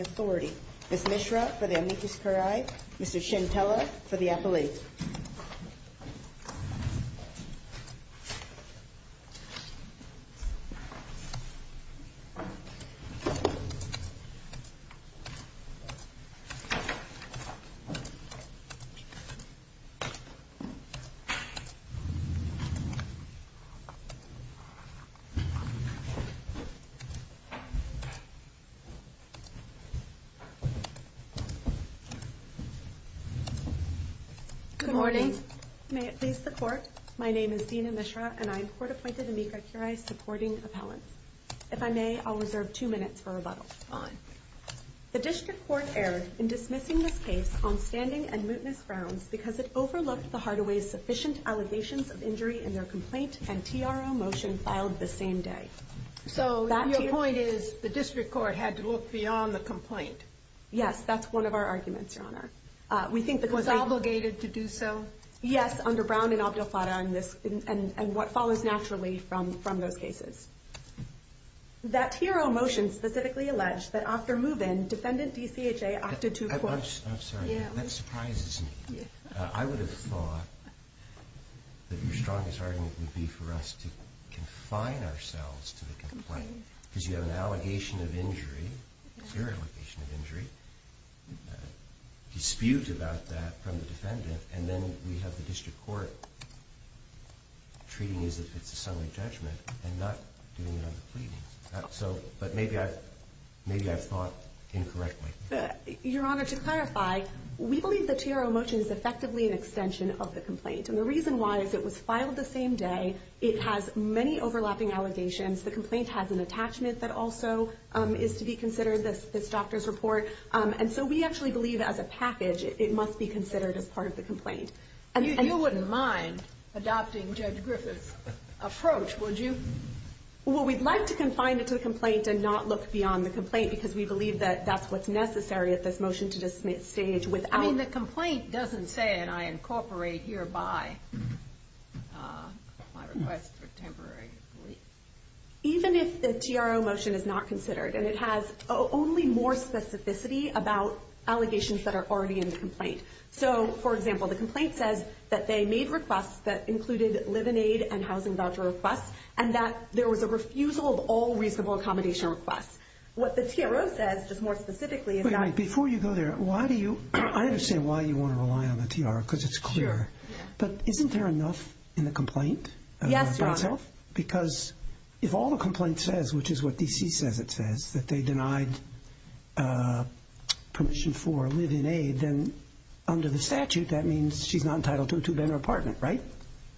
Authority. Ms. Mishra for the amicus curiae, Mr. Shintella for the appellate. Good morning. May it please the court, my name is Dina Mishra and I am court-appointed amicus curiae supporting appellants. If I may, I'll reserve two minutes for rebuttal. The district court erred in dismissing this case on standing and mootness grounds because it overlooked the Hardaway's sufficient allegations of injury in their complaint and TRO motion filed the same day. So your point is the district court had to look beyond the complaint? Yes, that's one of our arguments, Your Honor. Was it obligated to do so? Yes, under Brown and Abdel Fattah and what follows naturally from those cases. That TRO motion specifically alleged that after move-in, defendant DCHA opted to... I'm sorry, that surprises me. I would have thought that your strongest argument would be for us to confine ourselves to the complaint because you have an allegation of injury, your allegation of injury, dispute about that from the defendant and then we have the district court treating as if it's summary judgment and not doing it on the pleadings. But maybe I've thought incorrectly. Your Honor, to clarify, we believe the TRO motion is effectively an extension of the complaint and the reason why is it was filed the same day, it has many overlapping allegations, the complaint has an attachment that also is to be considered, this doctor's report, and so we actually believe as a package it must be considered as part of the complaint. You wouldn't mind adopting Judge Griffith's approach, would you? Well, we'd like to confine it to the complaint and not look beyond the complaint because we believe that that's what's necessary at this motion to dismiss stage without... I mean, the complaint doesn't say and I incorporate hereby my request for temporary relief. Even if the TRO motion is not considered and it has only more specificity about allegations that are already in the complaint. So, for instance, the complaint says that they made requests that included live-in aid and housing voucher requests and that there was a refusal of all reasonable accommodation requests. What the TRO says, just more specifically, is that... Wait, wait, before you go there, why do you... I understand why you want to rely on the TRO because it's clear. But isn't there enough in the complaint by itself? Yes, Your Honor. Because if all the complaint says, which is what DC says it says, that they denied permission for live-in aid, then under the conditions, she's not entitled to a two-bedroom apartment, right?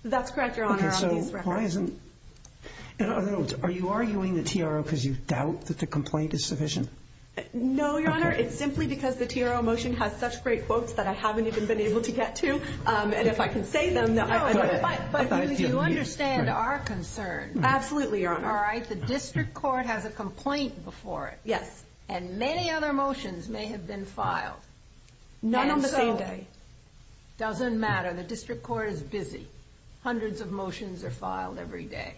That's correct, Your Honor. Okay, so why isn't... In other words, are you arguing the TRO because you doubt that the complaint is sufficient? No, Your Honor. It's simply because the TRO motion has such great quotes that I haven't even been able to get to. And if I can say them... No, but you understand our concern. Absolutely, Your Honor. All right? The district court has a doesn't matter. The district court is busy. Hundreds of motions are filed every day.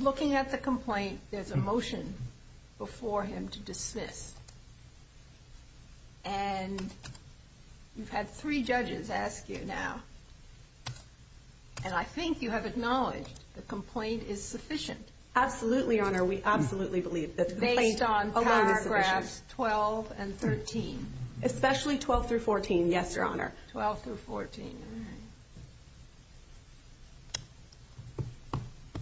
Looking at the complaint, there's a motion before him to dismiss. And you've had three judges ask you now, and I think you have acknowledged the complaint is sufficient. Absolutely, Your 12-14, yes, Your Honor. 12-14, all right.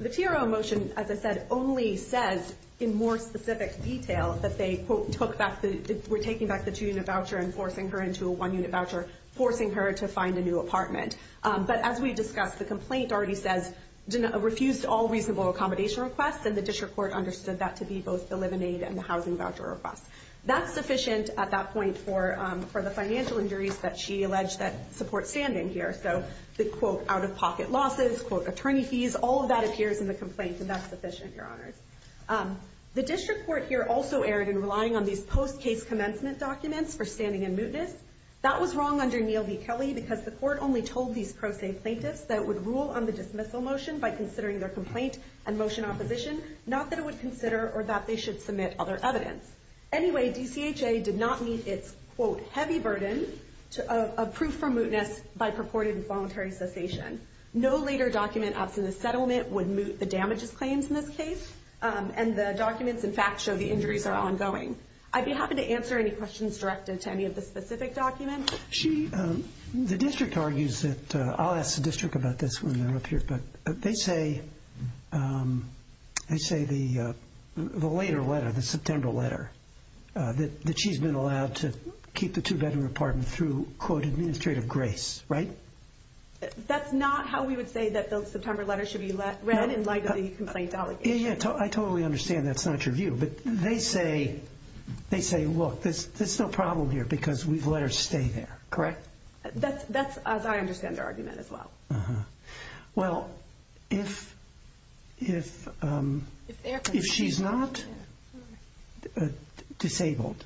The TRO motion, as I said, only says in more specific detail that they were taking back the two-unit voucher and forcing her into a one-unit voucher, forcing her to find a new apartment. But as we discussed, the complaint already says refused all reasonable accommodation requests, and the district court understood that to be both the live-in aid and the housing voucher requests. That's sufficient at that point for the financial injuries that she alleged that support standing here. So the quote, out-of-pocket losses, quote, attorney fees, all of that appears in the complaint, and that's sufficient, Your Honors. The district court here also erred in relying on these post-case commencement documents for standing and mootness. That was wrong under Neal v. Kelly because the court only told these pro se plaintiffs that it would rule on the dismissal motion by considering their complaint and motion opposition, not that it would consider or that they should submit other evidence. Anyway, DCHA did not meet its, quote, heavy burden of proof for mootness by purported involuntary cessation. No later document absent the settlement would moot the damages claims in this case, and the documents, in fact, show the injuries are ongoing. I'd be happy to answer any questions directed to any of the specific documents. The district argues that, I'll ask the district about this when they're up here, but they say the later letter, the September letter, that she's been allowed to keep the two-bedroom apartment through, quote, administrative grace, right? That's not how we would say that the September letter should be read in light of the complaint allegation. Yeah, I totally understand that's not your view, but they say, look, there's no problem here because we've let her stay there. Correct. That's as I understand their argument as well. Well, if she's not disabled,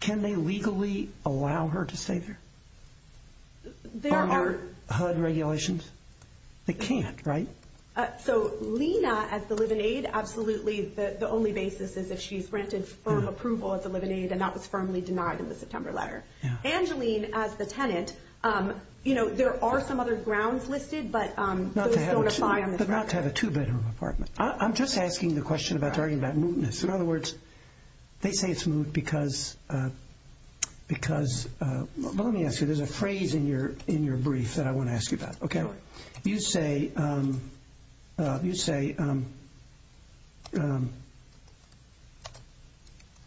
can they legally allow her to stay there? There are... Are there HUD regulations? They can't, right? So Lena, as the live-in aid, absolutely the only basis is if she's granted firm approval as a live-in aid, and that was firmly denied in the September letter. Angeline, as the tenant, there are some other grounds listed, but those don't apply on this matter. But not to have a two-bedroom apartment. I'm just asking the question about, talking about mootness. In other words, they say it's moot because, but let me ask you, there's a phrase in your brief that I want to ask you about. You say,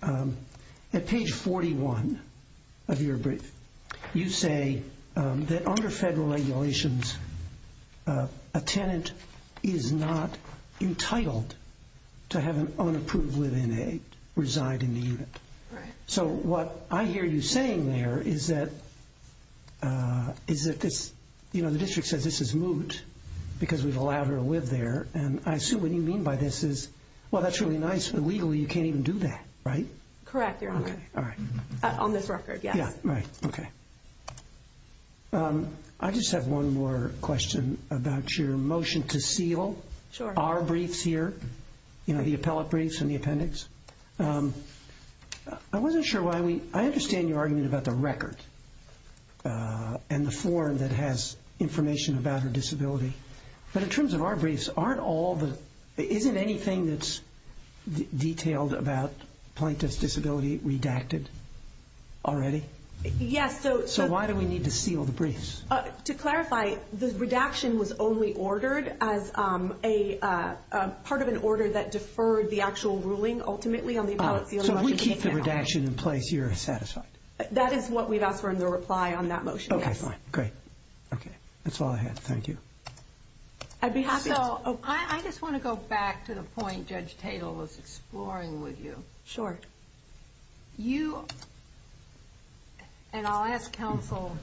at page 41 of your brief, you say that under federal regulations, a tenant is not entitled to have an unapproved live-in The district says this is moot because we've allowed her to live there, and I assume what you mean by this is, well, that's really nice, but legally you can't even do that, right? Correct, Your Honor. On this record, yes. I just have one more question about your motion to seal our briefs here, the appellate briefs and the appendix. I wasn't sure why we, I understand your argument about the record and the form that has information about her disability, but in terms of our briefs, aren't all the, isn't anything that's detailed about plaintiff's disability redacted already? Yes. So why do we need to seal the briefs? To clarify, the redaction was only ordered as a part of an order that deferred the actual ruling ultimately on the appellate seal. So we keep the redaction in place, you're satisfied? That is what we've asked for in the reply on that motion, yes. Okay, fine. Great. Okay. That's all I had. Thank you. I'd be happy to. I just want to go back to the point Judge Tatel was exploring with you. Sure. You, and I'll ask counsel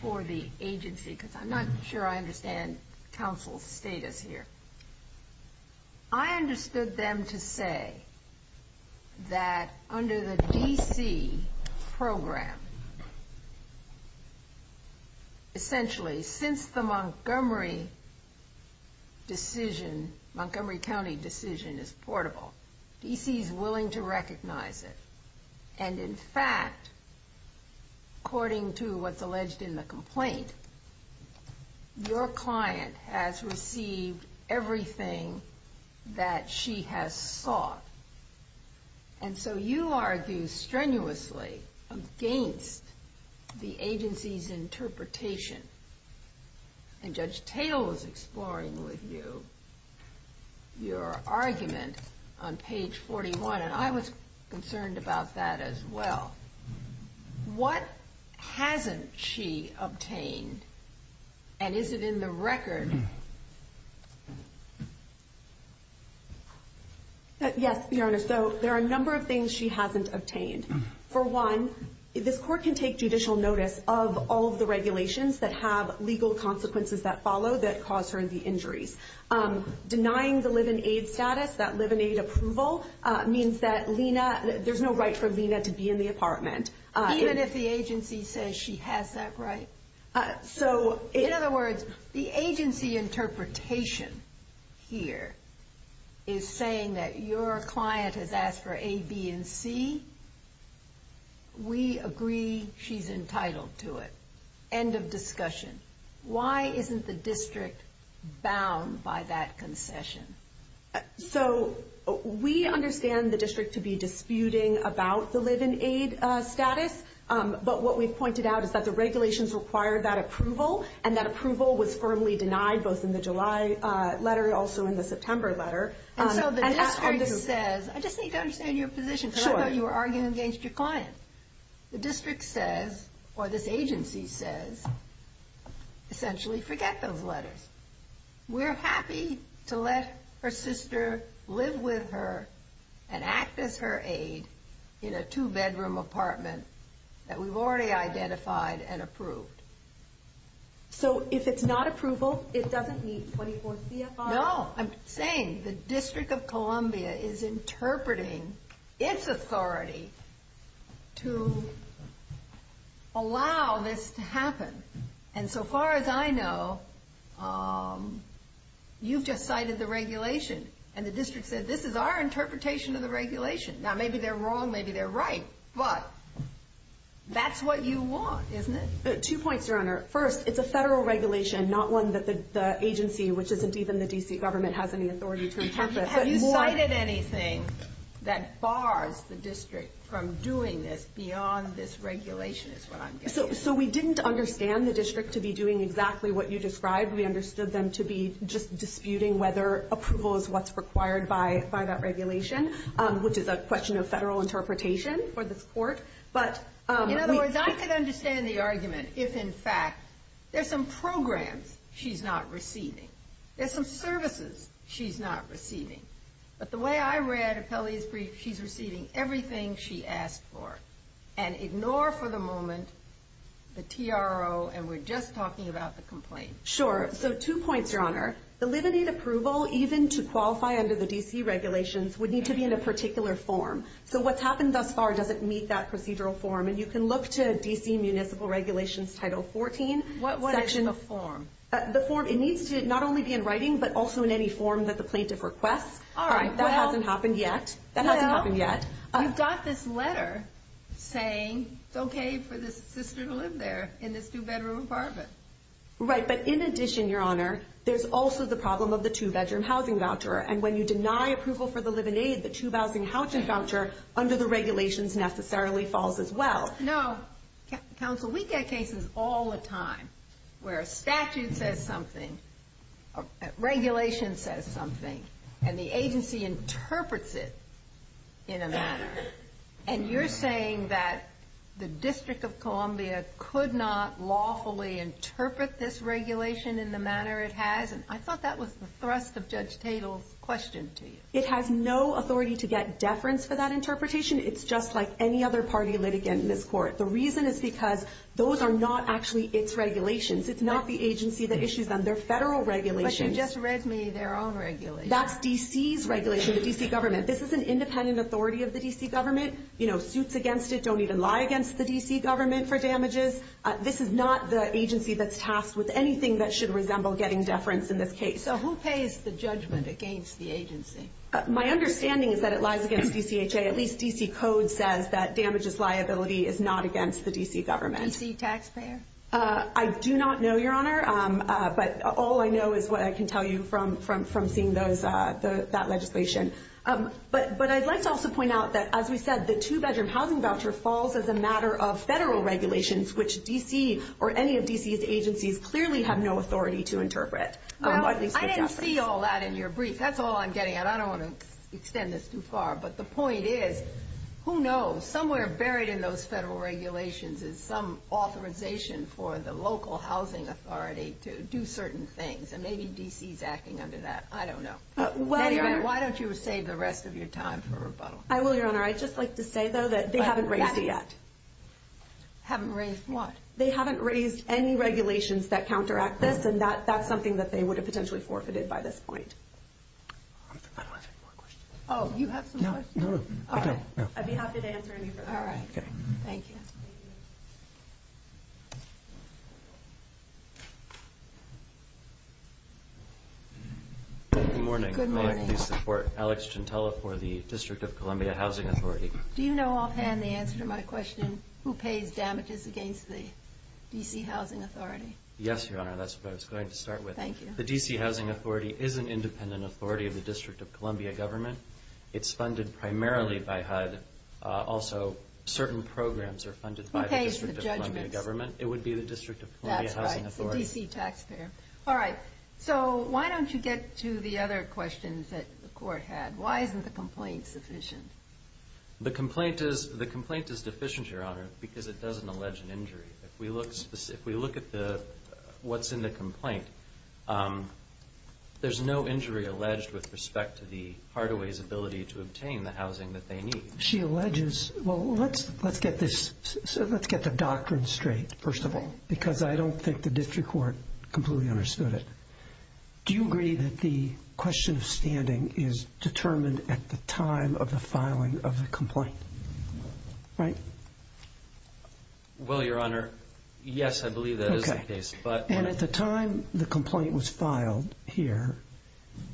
for the agency, because I'm not sure I understand counsel's status here. I understood them to say that under the DC program, essentially, since the Montgomery decision, Montgomery County decision is portable. DC's willing to recognize it. And in fact, according to what's alleged in the complaint, your client has received everything that she has sought. And so you argue strenuously against the agency's interpretation. And Judge Tatel was exploring with you your argument on page 41. And I was concerned about that as well. What hasn't she obtained? And is it in the record? Yes, Your Honor. So there are a number of things she hasn't obtained. For one, this court can take judicial notice of all of the regulations that have legal consequences that follow that cause her the injuries. Denying the live in aid status, that live in aid approval, means that there's no right for Lena to be in the apartment. Even if the agency says she has that right? So in other words, the agency interpretation here is saying that your client has asked for A, B, and C. We agree she's entitled to it. End of discussion. Why isn't the district bound by that concession? So we understand the district to be disputing about the live in aid status. But what we've pointed out is that the regulations require that approval. And that approval was firmly denied both in the July letter and also in the September letter. And so the district says, I just need to understand your position here. You were arguing against your client. The district says, or this agency says, essentially forget those letters. We're happy to let her sister live with her and act as her aid in a two bedroom apartment that we've already identified and approved. So if it's not approval, it doesn't meet 24 CFR? No. I'm saying the District of Columbia is interpreting its authority to allow this to happen. And so far as I know, you've just cited the regulation. And the district said, this is our interpretation of the regulation. Now maybe they're wrong, maybe they're right. But that's what you want, isn't it? Two points, Your Honor. First, it's a federal regulation, not one that the agency, which isn't even the D.C. government, has any authority to interpret. Have you cited anything that bars the district from doing this beyond this regulation? So we didn't understand the district to be doing exactly what you described. We understood them to be just disputing whether approval is what's required by that regulation, which is a question of federal interpretation for this court. In other words, I could understand the argument if, in fact, there's some programs she's not receiving, there's some services she's not receiving. But the way I read Appellee's Brief, she's receiving everything she asked for. And ignore for the moment the TRO, and we're just talking about the complaint. Sure. So two points, Your Honor. The limited approval, even to qualify under the D.C. regulations, would need to be in a particular form. So what's happened thus far doesn't meet that procedural form. And you can look to D.C. Municipal Regulations, Title 14. What is the form? The form, it needs to not only be in writing, but also in any form that the plaintiff requests. All right. That hasn't happened yet. That hasn't happened yet. Well, you've got this letter saying it's okay for this sister to live there in this two-bedroom apartment. Right. But in addition, Your Honor, there's also the problem of the two-bedroom housing voucher. And when you deny approval for the live-in aid, the two-bedroom housing voucher under the regulations necessarily falls as well. No. Counsel, we get cases all the time where a statute says something, a regulation says something, and the agency interprets it in a manner. And you're saying that the District of Columbia could not lawfully interpret this regulation in the manner it has. And I thought that was the thrust of Judge Tatel's question to you. It has no authority to get deference for that interpretation. It's just like any other party litigant in this court. The reason is because those are not actually its regulations. It's not the agency that issues them. They're federal regulations. But you just read me their own regulations. That's D.C.'s regulation, the D.C. government. This is an independent authority of the D.C. government. You know, suits against it don't even lie against the D.C. government for damages. This is not the agency that's tasked with anything that should resemble getting deference in this case. So who pays the judgment against the agency? My understanding is that it lies against D.C.H.A. At least D.C. code says that damages liability is not against the D.C. government. D.C. taxpayer? I do not know, Your Honor. But all I know is what I can tell you from seeing that legislation. But I'd like to also point out that, as we said, the two-bedroom housing voucher falls as a matter of federal regulations, which D.C. or any of D.C.'s agencies clearly have no authority to interpret. I didn't see all that in your brief. That's all I'm getting at. I don't want to extend this too far. But the point is, who knows? Somewhere buried in those federal regulations is some authorization for the local housing authority to do certain things. And maybe D.C.'s acting under that. I don't know. Why don't you save the rest of your time for rebuttal? I will, Your Honor. I'd just like to say, though, that they haven't raised it yet. Haven't raised what? They haven't raised any regulations that counteract this. And that's something that they would have potentially forfeited by this point. I don't have any more questions. Oh, you have some questions? No, no, no. Okay. I'd be happy to answer any further. All right. Thank you. Good morning. Good morning. May I please support Alex Gentile for the District of Columbia Housing Authority? Do you know offhand the answer to my question, who pays damages against the D.C. Housing Authority? Yes, Your Honor. That's what I was going to start with. Thank you. The D.C. Housing Authority is an independent authority of the District of Columbia government. It's funded primarily by HUD. Also, certain programs are funded by the District of Columbia government. Who pays the judgments? It would be the District of Columbia Housing Authority. That's right. The D.C. taxpayer. All right. So why don't you get to the other questions that the court had? Why isn't the complaint sufficient? The complaint is deficient, Your Honor, because it doesn't allege an injury. If we look at what's in the complaint, there's no injury alleged with respect to the Hardaway's ability to obtain the housing that they need. She alleges. Well, let's get the doctrine straight, first of all, because I don't think the district court completely understood it. Do you agree that the question of standing is determined at the time of the filing of the complaint? Right? Well, Your Honor, yes, I believe that is the case. Okay. And at the time the complaint was filed here,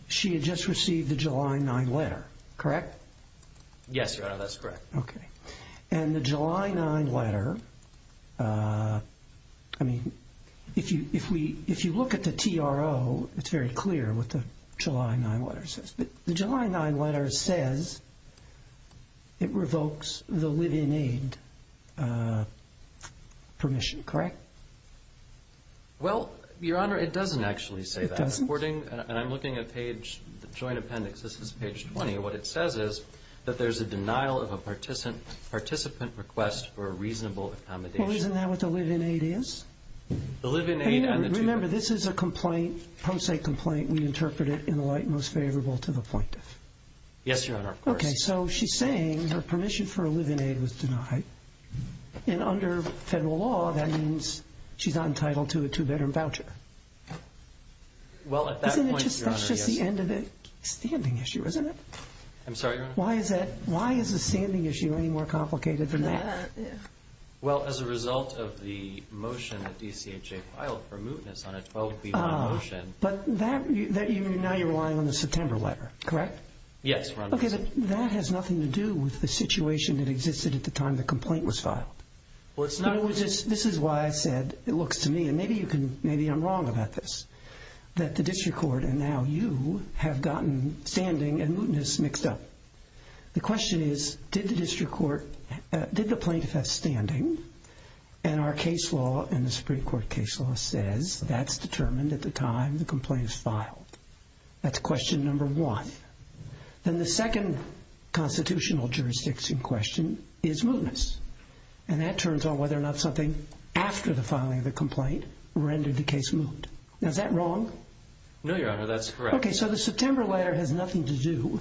she had just received the July 9 letter. Correct? Yes, Your Honor. That's correct. Okay. And the July 9 letter, I mean, if you look at the TRO, it's very clear what the July 9 letter says. But the July 9 letter says it revokes the live-in aid permission. Correct? Well, Your Honor, it doesn't actually say that. It doesn't? And I'm looking at page, the joint appendix. This is page 20. What it says is that there's a denial of a participant request for a reasonable accommodation. Well, isn't that what the live-in aid is? The live-in aid and the two-bedroom. Remember, this is a complaint, a pro se complaint. We interpret it in the light most favorable to the appointive. Yes, Your Honor, of course. Okay. So she's saying her permission for a live-in aid was denied. And under federal law, that means she's not entitled to a two-bedroom voucher. Well, at that point, Your Honor, yes. Isn't it just the end of the standing issue, isn't it? I'm sorry, Your Honor? Why is the standing issue any more complicated than that? Well, as a result of the motion that DCHA filed for mootness on a 12B1 motion... But now you're relying on the September letter, correct? Yes, Your Honor. Okay. That has nothing to do with the situation that existed at the time the complaint was filed. Well, it's not... This is why I said it looks to me, and maybe I'm wrong about this, that the district court and now you have gotten standing and mootness mixed up. The question is, did the plaintiff have standing? And our case law and the Supreme Court case law says that's determined at the time the complaint is filed. That's question number one. Then the second constitutional jurisdiction question is mootness. And that turns on whether or not something after the filing of the complaint rendered the case moot. Now, is that wrong? No, Your Honor. That's correct. Okay. So the September letter has nothing to do...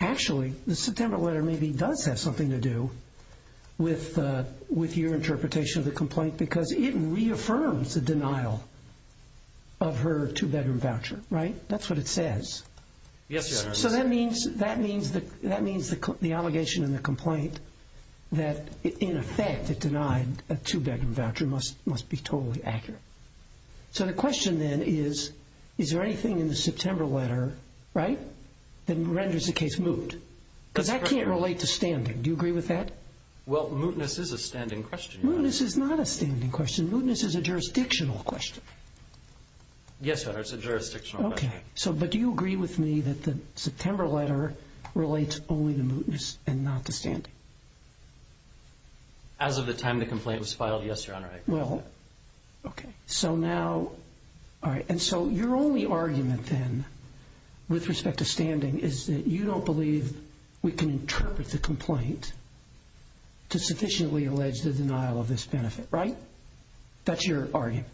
Actually, the September letter maybe does have something to do with your interpretation of the complaint because it reaffirms the denial of her two-bedroom voucher, right? That's what it says. Yes, Your Honor. So that means the allegation in the complaint that, in effect, it denied a two-bedroom voucher must be totally accurate. So the question then is, is there anything in the September letter, right, that renders the case moot? Because that can't relate to standing. Do you agree with that? Well, mootness is a standing question, Your Honor. Mootness is not a standing question. Mootness is a jurisdictional question. Yes, Your Honor. It's a jurisdictional question. Okay. But do you agree with me that the September letter relates only to mootness and not to standing? As of the time the complaint was filed, yes, Your Honor. Well, okay. So now, all right. And so your only argument then, with respect to standing, is that you don't believe we can interpret the complaint to sufficiently allege the denial of this benefit, right? That's your argument.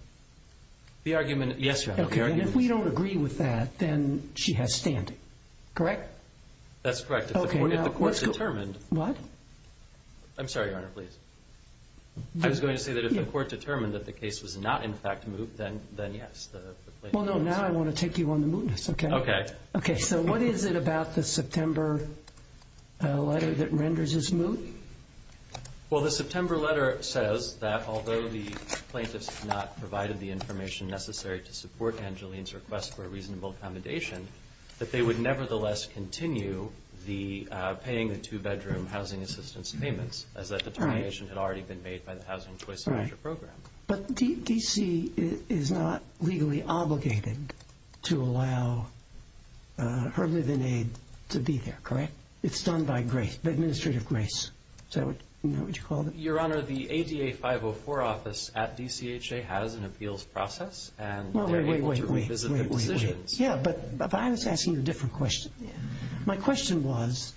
The argument, yes, Your Honor. Okay. And if we don't agree with that, then she has standing, correct? That's correct. If the court determined... What? I'm sorry, Your Honor. Please. I was going to say that if the court determined that the case was not, in fact, moot, then yes. Well, no. Now I want to take you on the mootness. Okay? Okay. Okay. So what is it about the September letter that renders this moot? Well, the September letter says that although the plaintiffs have not provided the information necessary to support Angeline's request for a reasonable accommodation, that they would nevertheless continue paying the two-bedroom housing assistance payments as that determination had already been made by the Housing Choice Manager Program. But D.C. is not legally obligated to allow her live-in aid to be there, correct? It's done by grace, by administrative grace. Is that what you called it? Your Honor, the ADA 504 office at D.C.H.A. has an appeals process, and they're able to revisit the decisions. Wait, wait, wait. Yeah, but I was asking a different question. My question was,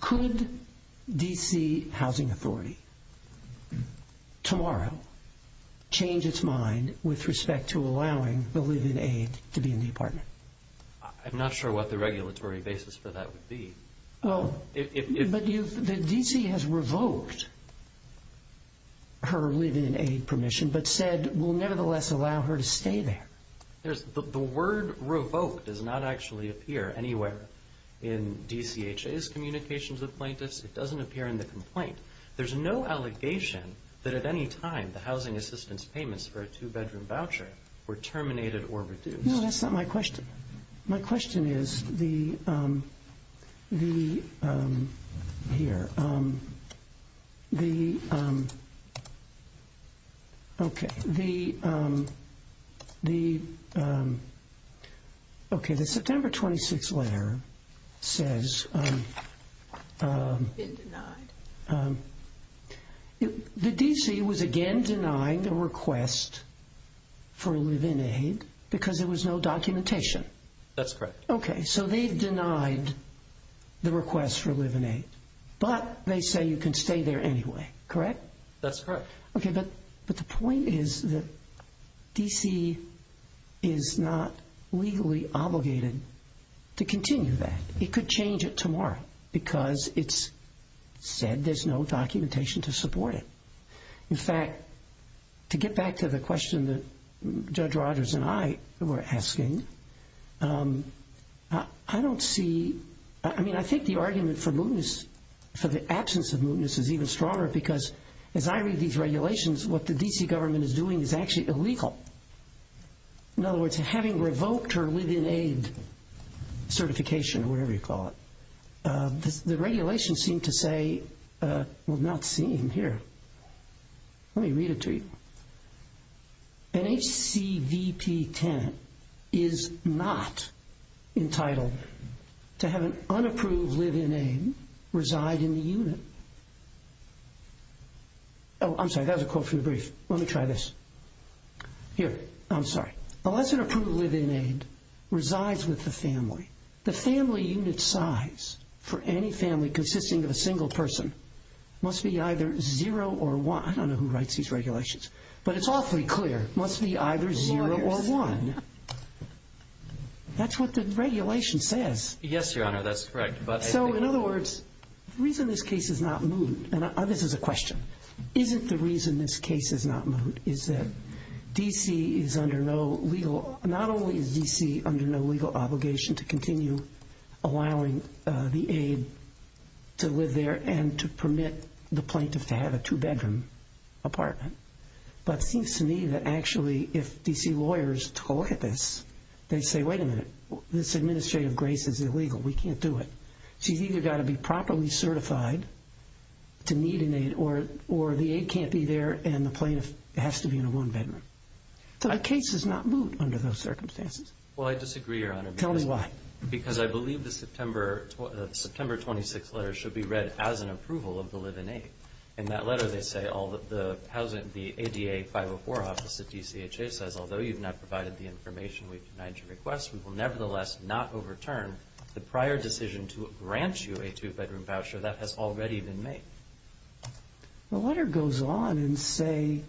could D.C. Housing Authority tomorrow change its mind with respect to allowing the live-in aid to be in the apartment? I'm not sure what the regulatory basis for that would be. But D.C. has revoked her live-in aid permission, but said will nevertheless allow her to stay there. The word revoked does not actually appear anywhere in D.C.H.A.'s communications with plaintiffs. It doesn't appear in the complaint. There's no allegation that at any time the housing assistance payments for a two-bedroom voucher were terminated or reduced. No, that's not my question. My question is, the, here, the, okay, the, okay, the September 26th letter says... It's been denied. The D.C. was again denying the request for live-in aid because there was no documentation. That's correct. Okay, so they've denied the request for live-in aid, but they say you can stay there anyway, correct? That's correct. Okay, but the point is that D.C. is not legally obligated to continue that. It could change it tomorrow because it's said there's no documentation to support it. In fact, to get back to the question that Judge Rogers and I were asking, I don't see, I mean, I think the argument for mootness, for the absence of mootness is even stronger because as I read these regulations, what the D.C. government is doing is actually illegal. In other words, having revoked her live-in aid certification or whatever you call it, the regulations seem to say, well, not seem, here, let me read it to you. An HCVP tenant is not entitled to have an unapproved live-in aid reside in the unit. Oh, I'm sorry. That was a quote from the brief. Let me try this. Here. I'm sorry. Unless an approved live-in aid resides with the family, the family unit size for any family consisting of a single person must be either 0 or 1. I don't know who writes these regulations, but it's awfully clear. It must be either 0 or 1. Lawyers. That's what the regulation says. Yes, Your Honor, that's correct. So, in other words, the reason this case is not moot, and this is a question, isn't the reason this case is not moot is that D.C. is under no legal, not only is D.C. under no legal obligation to continue allowing the aide to live there and to permit the plaintiff to have a two-bedroom apartment, but it seems to me that actually if D.C. lawyers look at this, they say, wait a minute, this administrative grace is illegal. We can't do it. She's either got to be properly certified to need an aide or the aide can't be there and the plaintiff has to be in a one-bedroom. So the case is not moot under those circumstances. Well, I disagree, Your Honor. Tell me why. Because I believe the September 26th letter should be read as an approval of the live-in aid. In that letter they say the ADA 504 office at D.C.H.A. says, although you've not provided the information we've denied your request, we will nevertheless not overturn the prior decision to grant you a two-bedroom voucher. That has already been made. The letter goes on and say,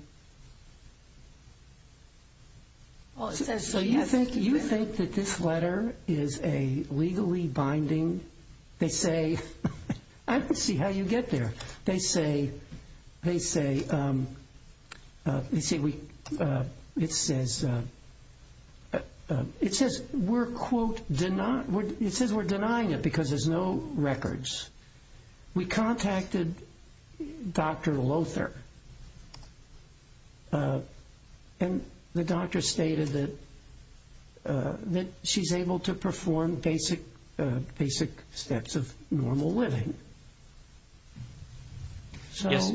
so you think that this letter is legally binding? They say, I can see how you get there. They say, it says, it says we're denying it because there's no records. We contacted Dr. Lother, and the doctor stated that she's able to perform basic steps of normal living. Yes.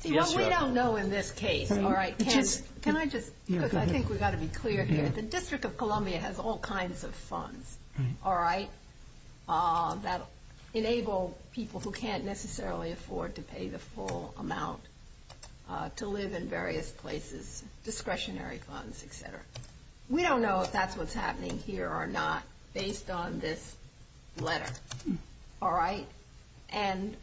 See, what we don't know in this case, all right, can I just, because I think we've got to be clear here, the District of Columbia has all kinds of funds, all right, that enable people who can't necessarily afford to pay the full amount to live in various places, discretionary funds, et cetera. We don't know if that's what's happening here or not based on this letter, all right? And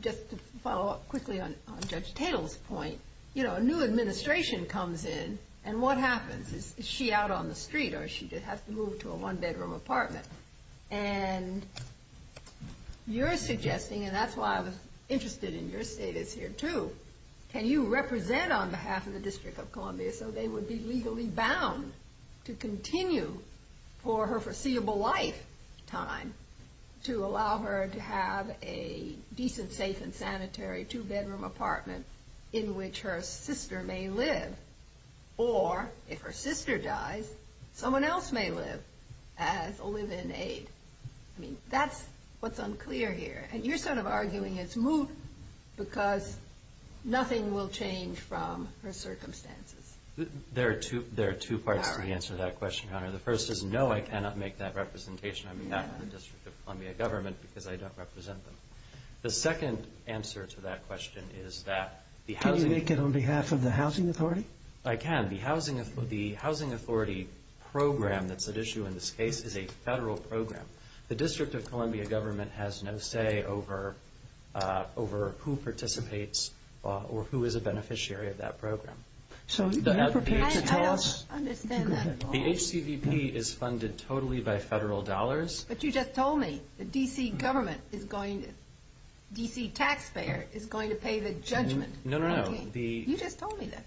just to follow up quickly on Judge Tatel's point, you know, a new administration comes in, and what happens? Is she out on the street, or does she have to move to a one-bedroom apartment? And you're suggesting, and that's why I was interested in your status here too, can you represent on behalf of the District of Columbia so they would be legally bound to continue for her foreseeable lifetime to allow her to have a decent, safe, and sanitary two-bedroom apartment in which her sister may live? Or if her sister dies, someone else may live as a live-in aide. I mean, that's what's unclear here. And you're sort of arguing it's moot because nothing will change from her circumstances. There are two parts to the answer to that question, Your Honor. The first is no, I cannot make that representation. I'm not from the District of Columbia government because I don't represent them. The second answer to that question is that the housing authority. Can you make it on behalf of the housing authority? I can. The housing authority program that's at issue in this case is a federal program. The District of Columbia government has no say over who participates or who is a beneficiary of that program. I don't understand that at all. The HCVP is funded totally by federal dollars. But you just told me the D.C. government is going to, D.C. taxpayer is going to pay the judgment. No, no, no. You just told me that.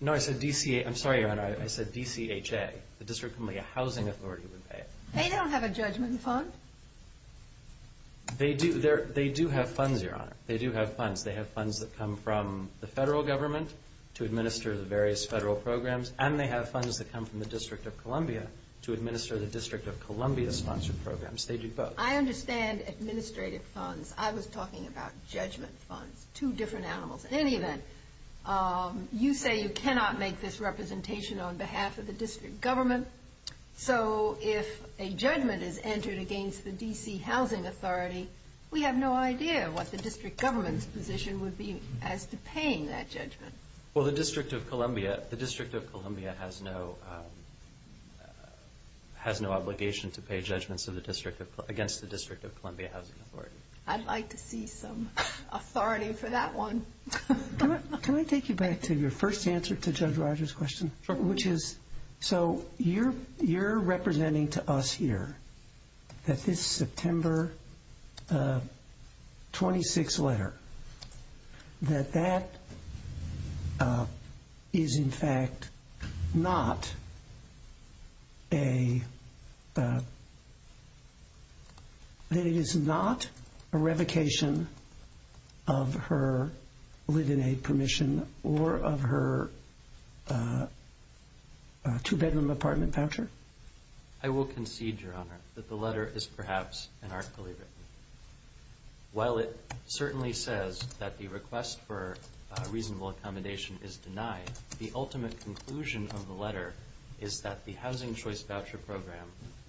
No, I said D.C. I'm sorry, Your Honor, I said D.C.H.A. The District of Columbia housing authority would pay it. They don't have a judgment fund. They do have funds, Your Honor. They do have funds. They have funds that come from the federal government to administer the various federal programs, and they have funds that come from the District of Columbia to administer the District of Columbia-sponsored programs. They do both. I understand administrative funds. I was talking about judgment funds, two different animals. In any event, you say you cannot make this representation on behalf of the district government. So if a judgment is entered against the D.C. housing authority, we have no idea what the district government's position would be as to paying that judgment. Well, the District of Columbia has no obligation to pay judgments against the District of Columbia housing authority. I'd like to see some authority for that one. Can I take you back to your first answer to Judge Rogers' question? Sure. So you're representing to us here that this September 26 letter, that that is in fact not a revocation of her litany permission or of her two-bedroom apartment voucher? I will concede, Your Honor, that the letter is perhaps inarticulately written. While it certainly says that the request for reasonable accommodation is denied, the ultimate conclusion of the letter is that the Housing Choice Voucher Program,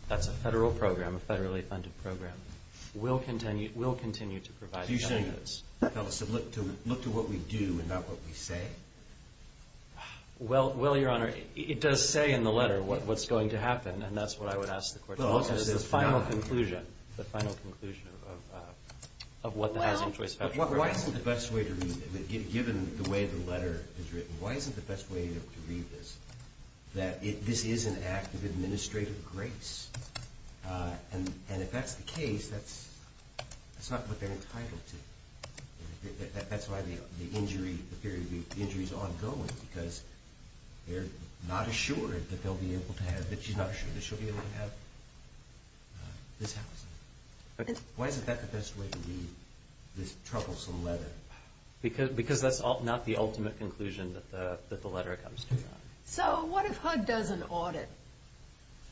that's a federal program, a federally funded program, will continue to provide those. So look to what we do and not what we say? Well, Your Honor, it does say in the letter what's going to happen, and that's what I would ask the court to do. It's the final conclusion, the final conclusion of what the Housing Choice Voucher Program is. Why isn't the best way to read it, given the way the letter is written, why isn't the best way to read this that this is an act of administrative grace? And if that's the case, that's not what they're entitled to. That's why the injury is ongoing, because they're not assured that they'll be able to have, that she's not assured that she'll be able to have this housing. Why isn't that the best way to read this troublesome letter? Because that's not the ultimate conclusion that the letter comes to. So what if HUD does an audit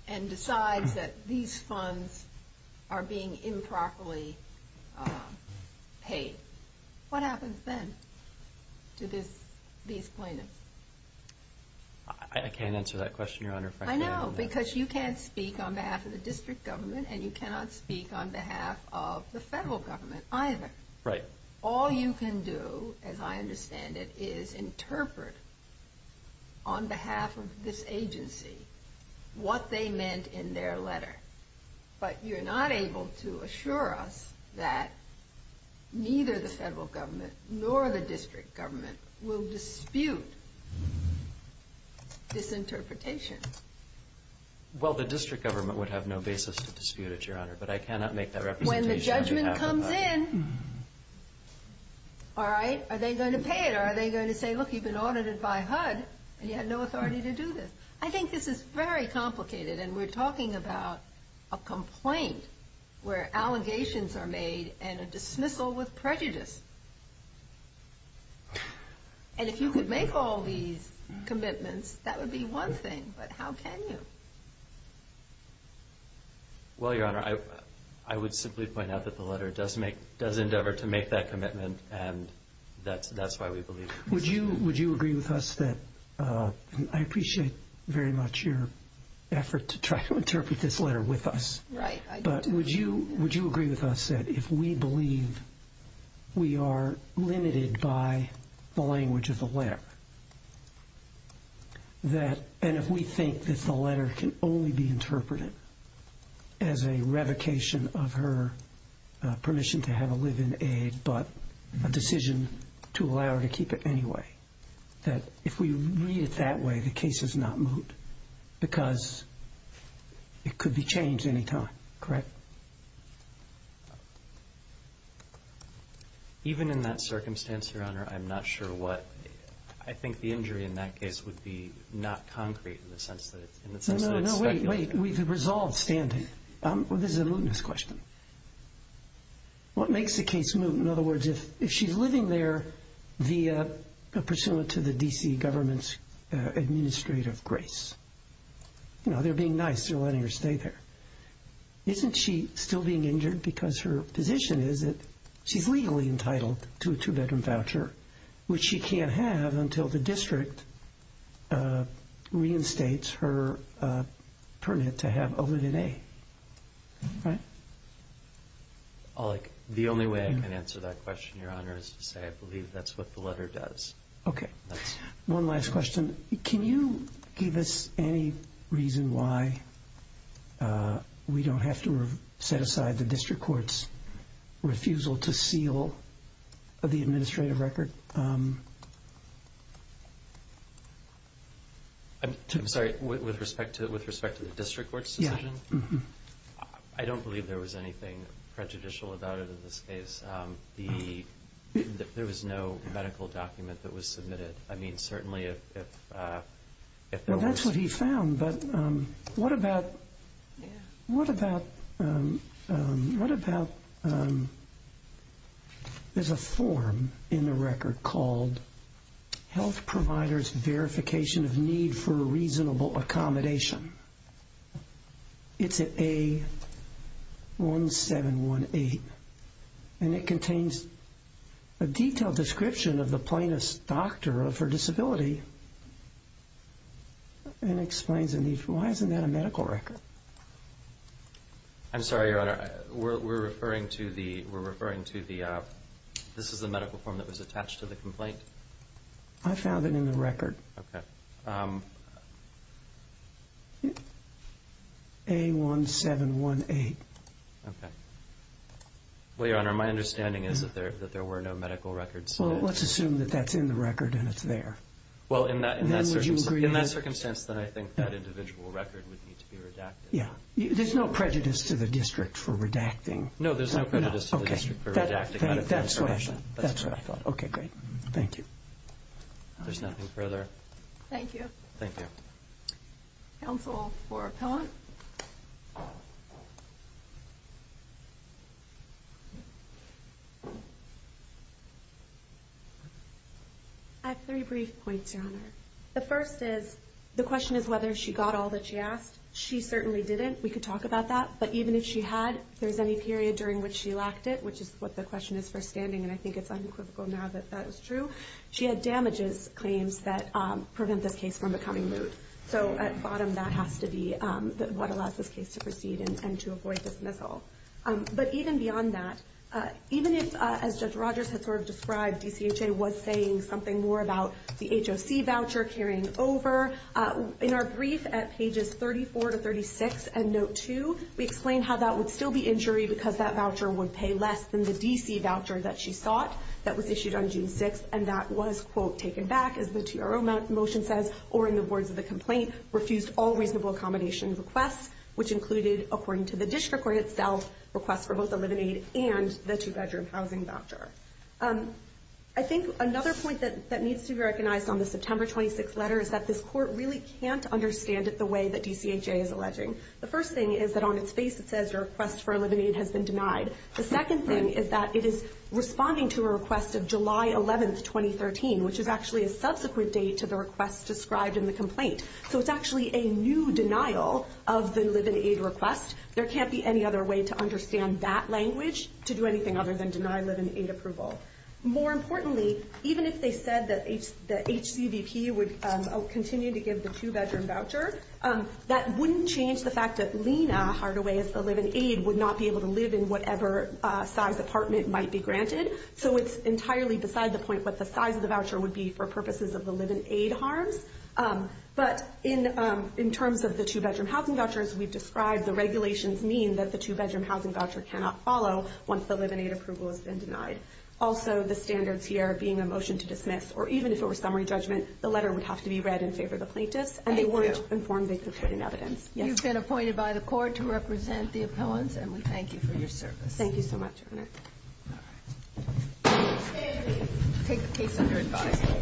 and decides that these funds are being improperly paid? What happens then to these plaintiffs? I can't answer that question, Your Honor. I know, because you can't speak on behalf of the district government, and you cannot speak on behalf of the federal government either. Right. All you can do, as I understand it, is interpret, on behalf of this agency, what they meant in their letter. But you're not able to assure us that neither the federal government nor the district government will dispute this interpretation. Well, the district government would have no basis to dispute it, Your Honor, but I cannot make that representation on behalf of HUD. When the judgment comes in, all right, are they going to pay it, or are they going to say, look, you've been audited by HUD, and you have no authority to do this? I think this is very complicated, and we're talking about a complaint where allegations are made and a dismissal with prejudice. And if you could make all these commitments, that would be one thing, but how can you? Well, Your Honor, I would simply point out that the letter does endeavor to make that commitment, and that's why we believe it. Would you agree with us that, and I appreciate very much your effort to try to interpret this letter with us, but would you agree with us that if we believe we are limited by the language of the letter, that if we think that the letter can only be interpreted as a revocation of her permission to have a live-in aide but a decision to allow her to keep it anyway, that if we read it that way, the case is not moot because it could be changed any time, correct? Even in that circumstance, Your Honor, I'm not sure what, I think the injury in that case would be not concrete in the sense that it's speculative. No, no, no, wait, wait, we've resolved standing. This is a mootness question. What makes the case moot? In other words, if she's living there via, pursuant to the D.C. government's administrative grace, you know, they're being nice, they're letting her stay there. Isn't she still being injured because her position is that she's legally entitled to a two-bedroom voucher, which she can't have until the district reinstates her permit to have a live-in aide, right? The only way I can answer that question, Your Honor, is to say I believe that's what the letter does. Okay, one last question. Can you give us any reason why we don't have to set aside the district court's refusal to seal the administrative record? I'm sorry, with respect to the district court's decision? Yeah. I don't believe there was anything prejudicial about it in this case. There was no medical document that was submitted. I mean, certainly if there was. Well, that's what he found. But what about there's a form in the record called Health Providers Verification of Need for a Reasonable Accommodation. It's at A1718, and it contains a detailed description of the plaintiff's doctor of her disability, and it explains a need for why isn't that a medical record? I'm sorry, Your Honor. We're referring to the medical form that was attached to the complaint. I found it in the record. Okay. A1718. Okay. Well, Your Honor, my understanding is that there were no medical records. Well, let's assume that that's in the record and it's there. Well, in that circumstance, then I think that individual record would need to be redacted. Yeah. There's no prejudice to the district for redacting. No, there's no prejudice to the district for redacting medical information. That's what I thought. Okay, great. Thank you. There's nothing further. Thank you. Thank you. Counsel for appellant. I have three brief points, Your Honor. The first is the question is whether she got all that she asked. She certainly didn't. We could talk about that. But even if she had, if there's any period during which she lacked it, which is what the question is for standing, and I think it's unequivocal now that that is true, she had damages claims that prevent this case from becoming moot. So at bottom, that has to be what allows this case to proceed and to avoid dismissal. But even beyond that, even if, as Judge Rogers had sort of described, DCHA was saying something more about the HOC voucher carrying over, in our brief at pages 34 to 36 and note 2, we explain how that would still be injury because that voucher would pay less than the DC voucher that she sought that was issued on June 6th, and that was, quote, taken back, as the TRO motion says, or in the words of the complaint, refused all reasonable accommodation requests, which included, according to the district court itself, requests for both a living aid and the two-bedroom housing voucher. I think another point that needs to be recognized on the September 26th letter is that this court really can't understand it the way that DCHA is alleging. The first thing is that on its face it says your request for a living aid has been denied. The second thing is that it is responding to a request of July 11th, 2013, which is actually a subsequent date to the request described in the complaint. So it's actually a new denial of the living aid request. There can't be any other way to understand that language to do anything other than deny living aid approval. More importantly, even if they said that the HCVP would continue to give the two-bedroom voucher, that wouldn't change the fact that Lena Hardaway, as the living aid, would not be able to live in whatever size apartment might be granted. So it's entirely beside the point what the size of the voucher would be for purposes of the living aid harms. But in terms of the two-bedroom housing vouchers we've described, the regulations mean that the two-bedroom housing voucher cannot follow once the living aid approval has been denied. Also, the standards here being a motion to dismiss, or even if it were summary judgment, the letter would have to be read in favor of the plaintiffs, and they weren't informed they could put in evidence. You've been appointed by the court to represent the appellants, and we thank you for your service. Thank you so much, Your Honor. All right. Take the case under advisory.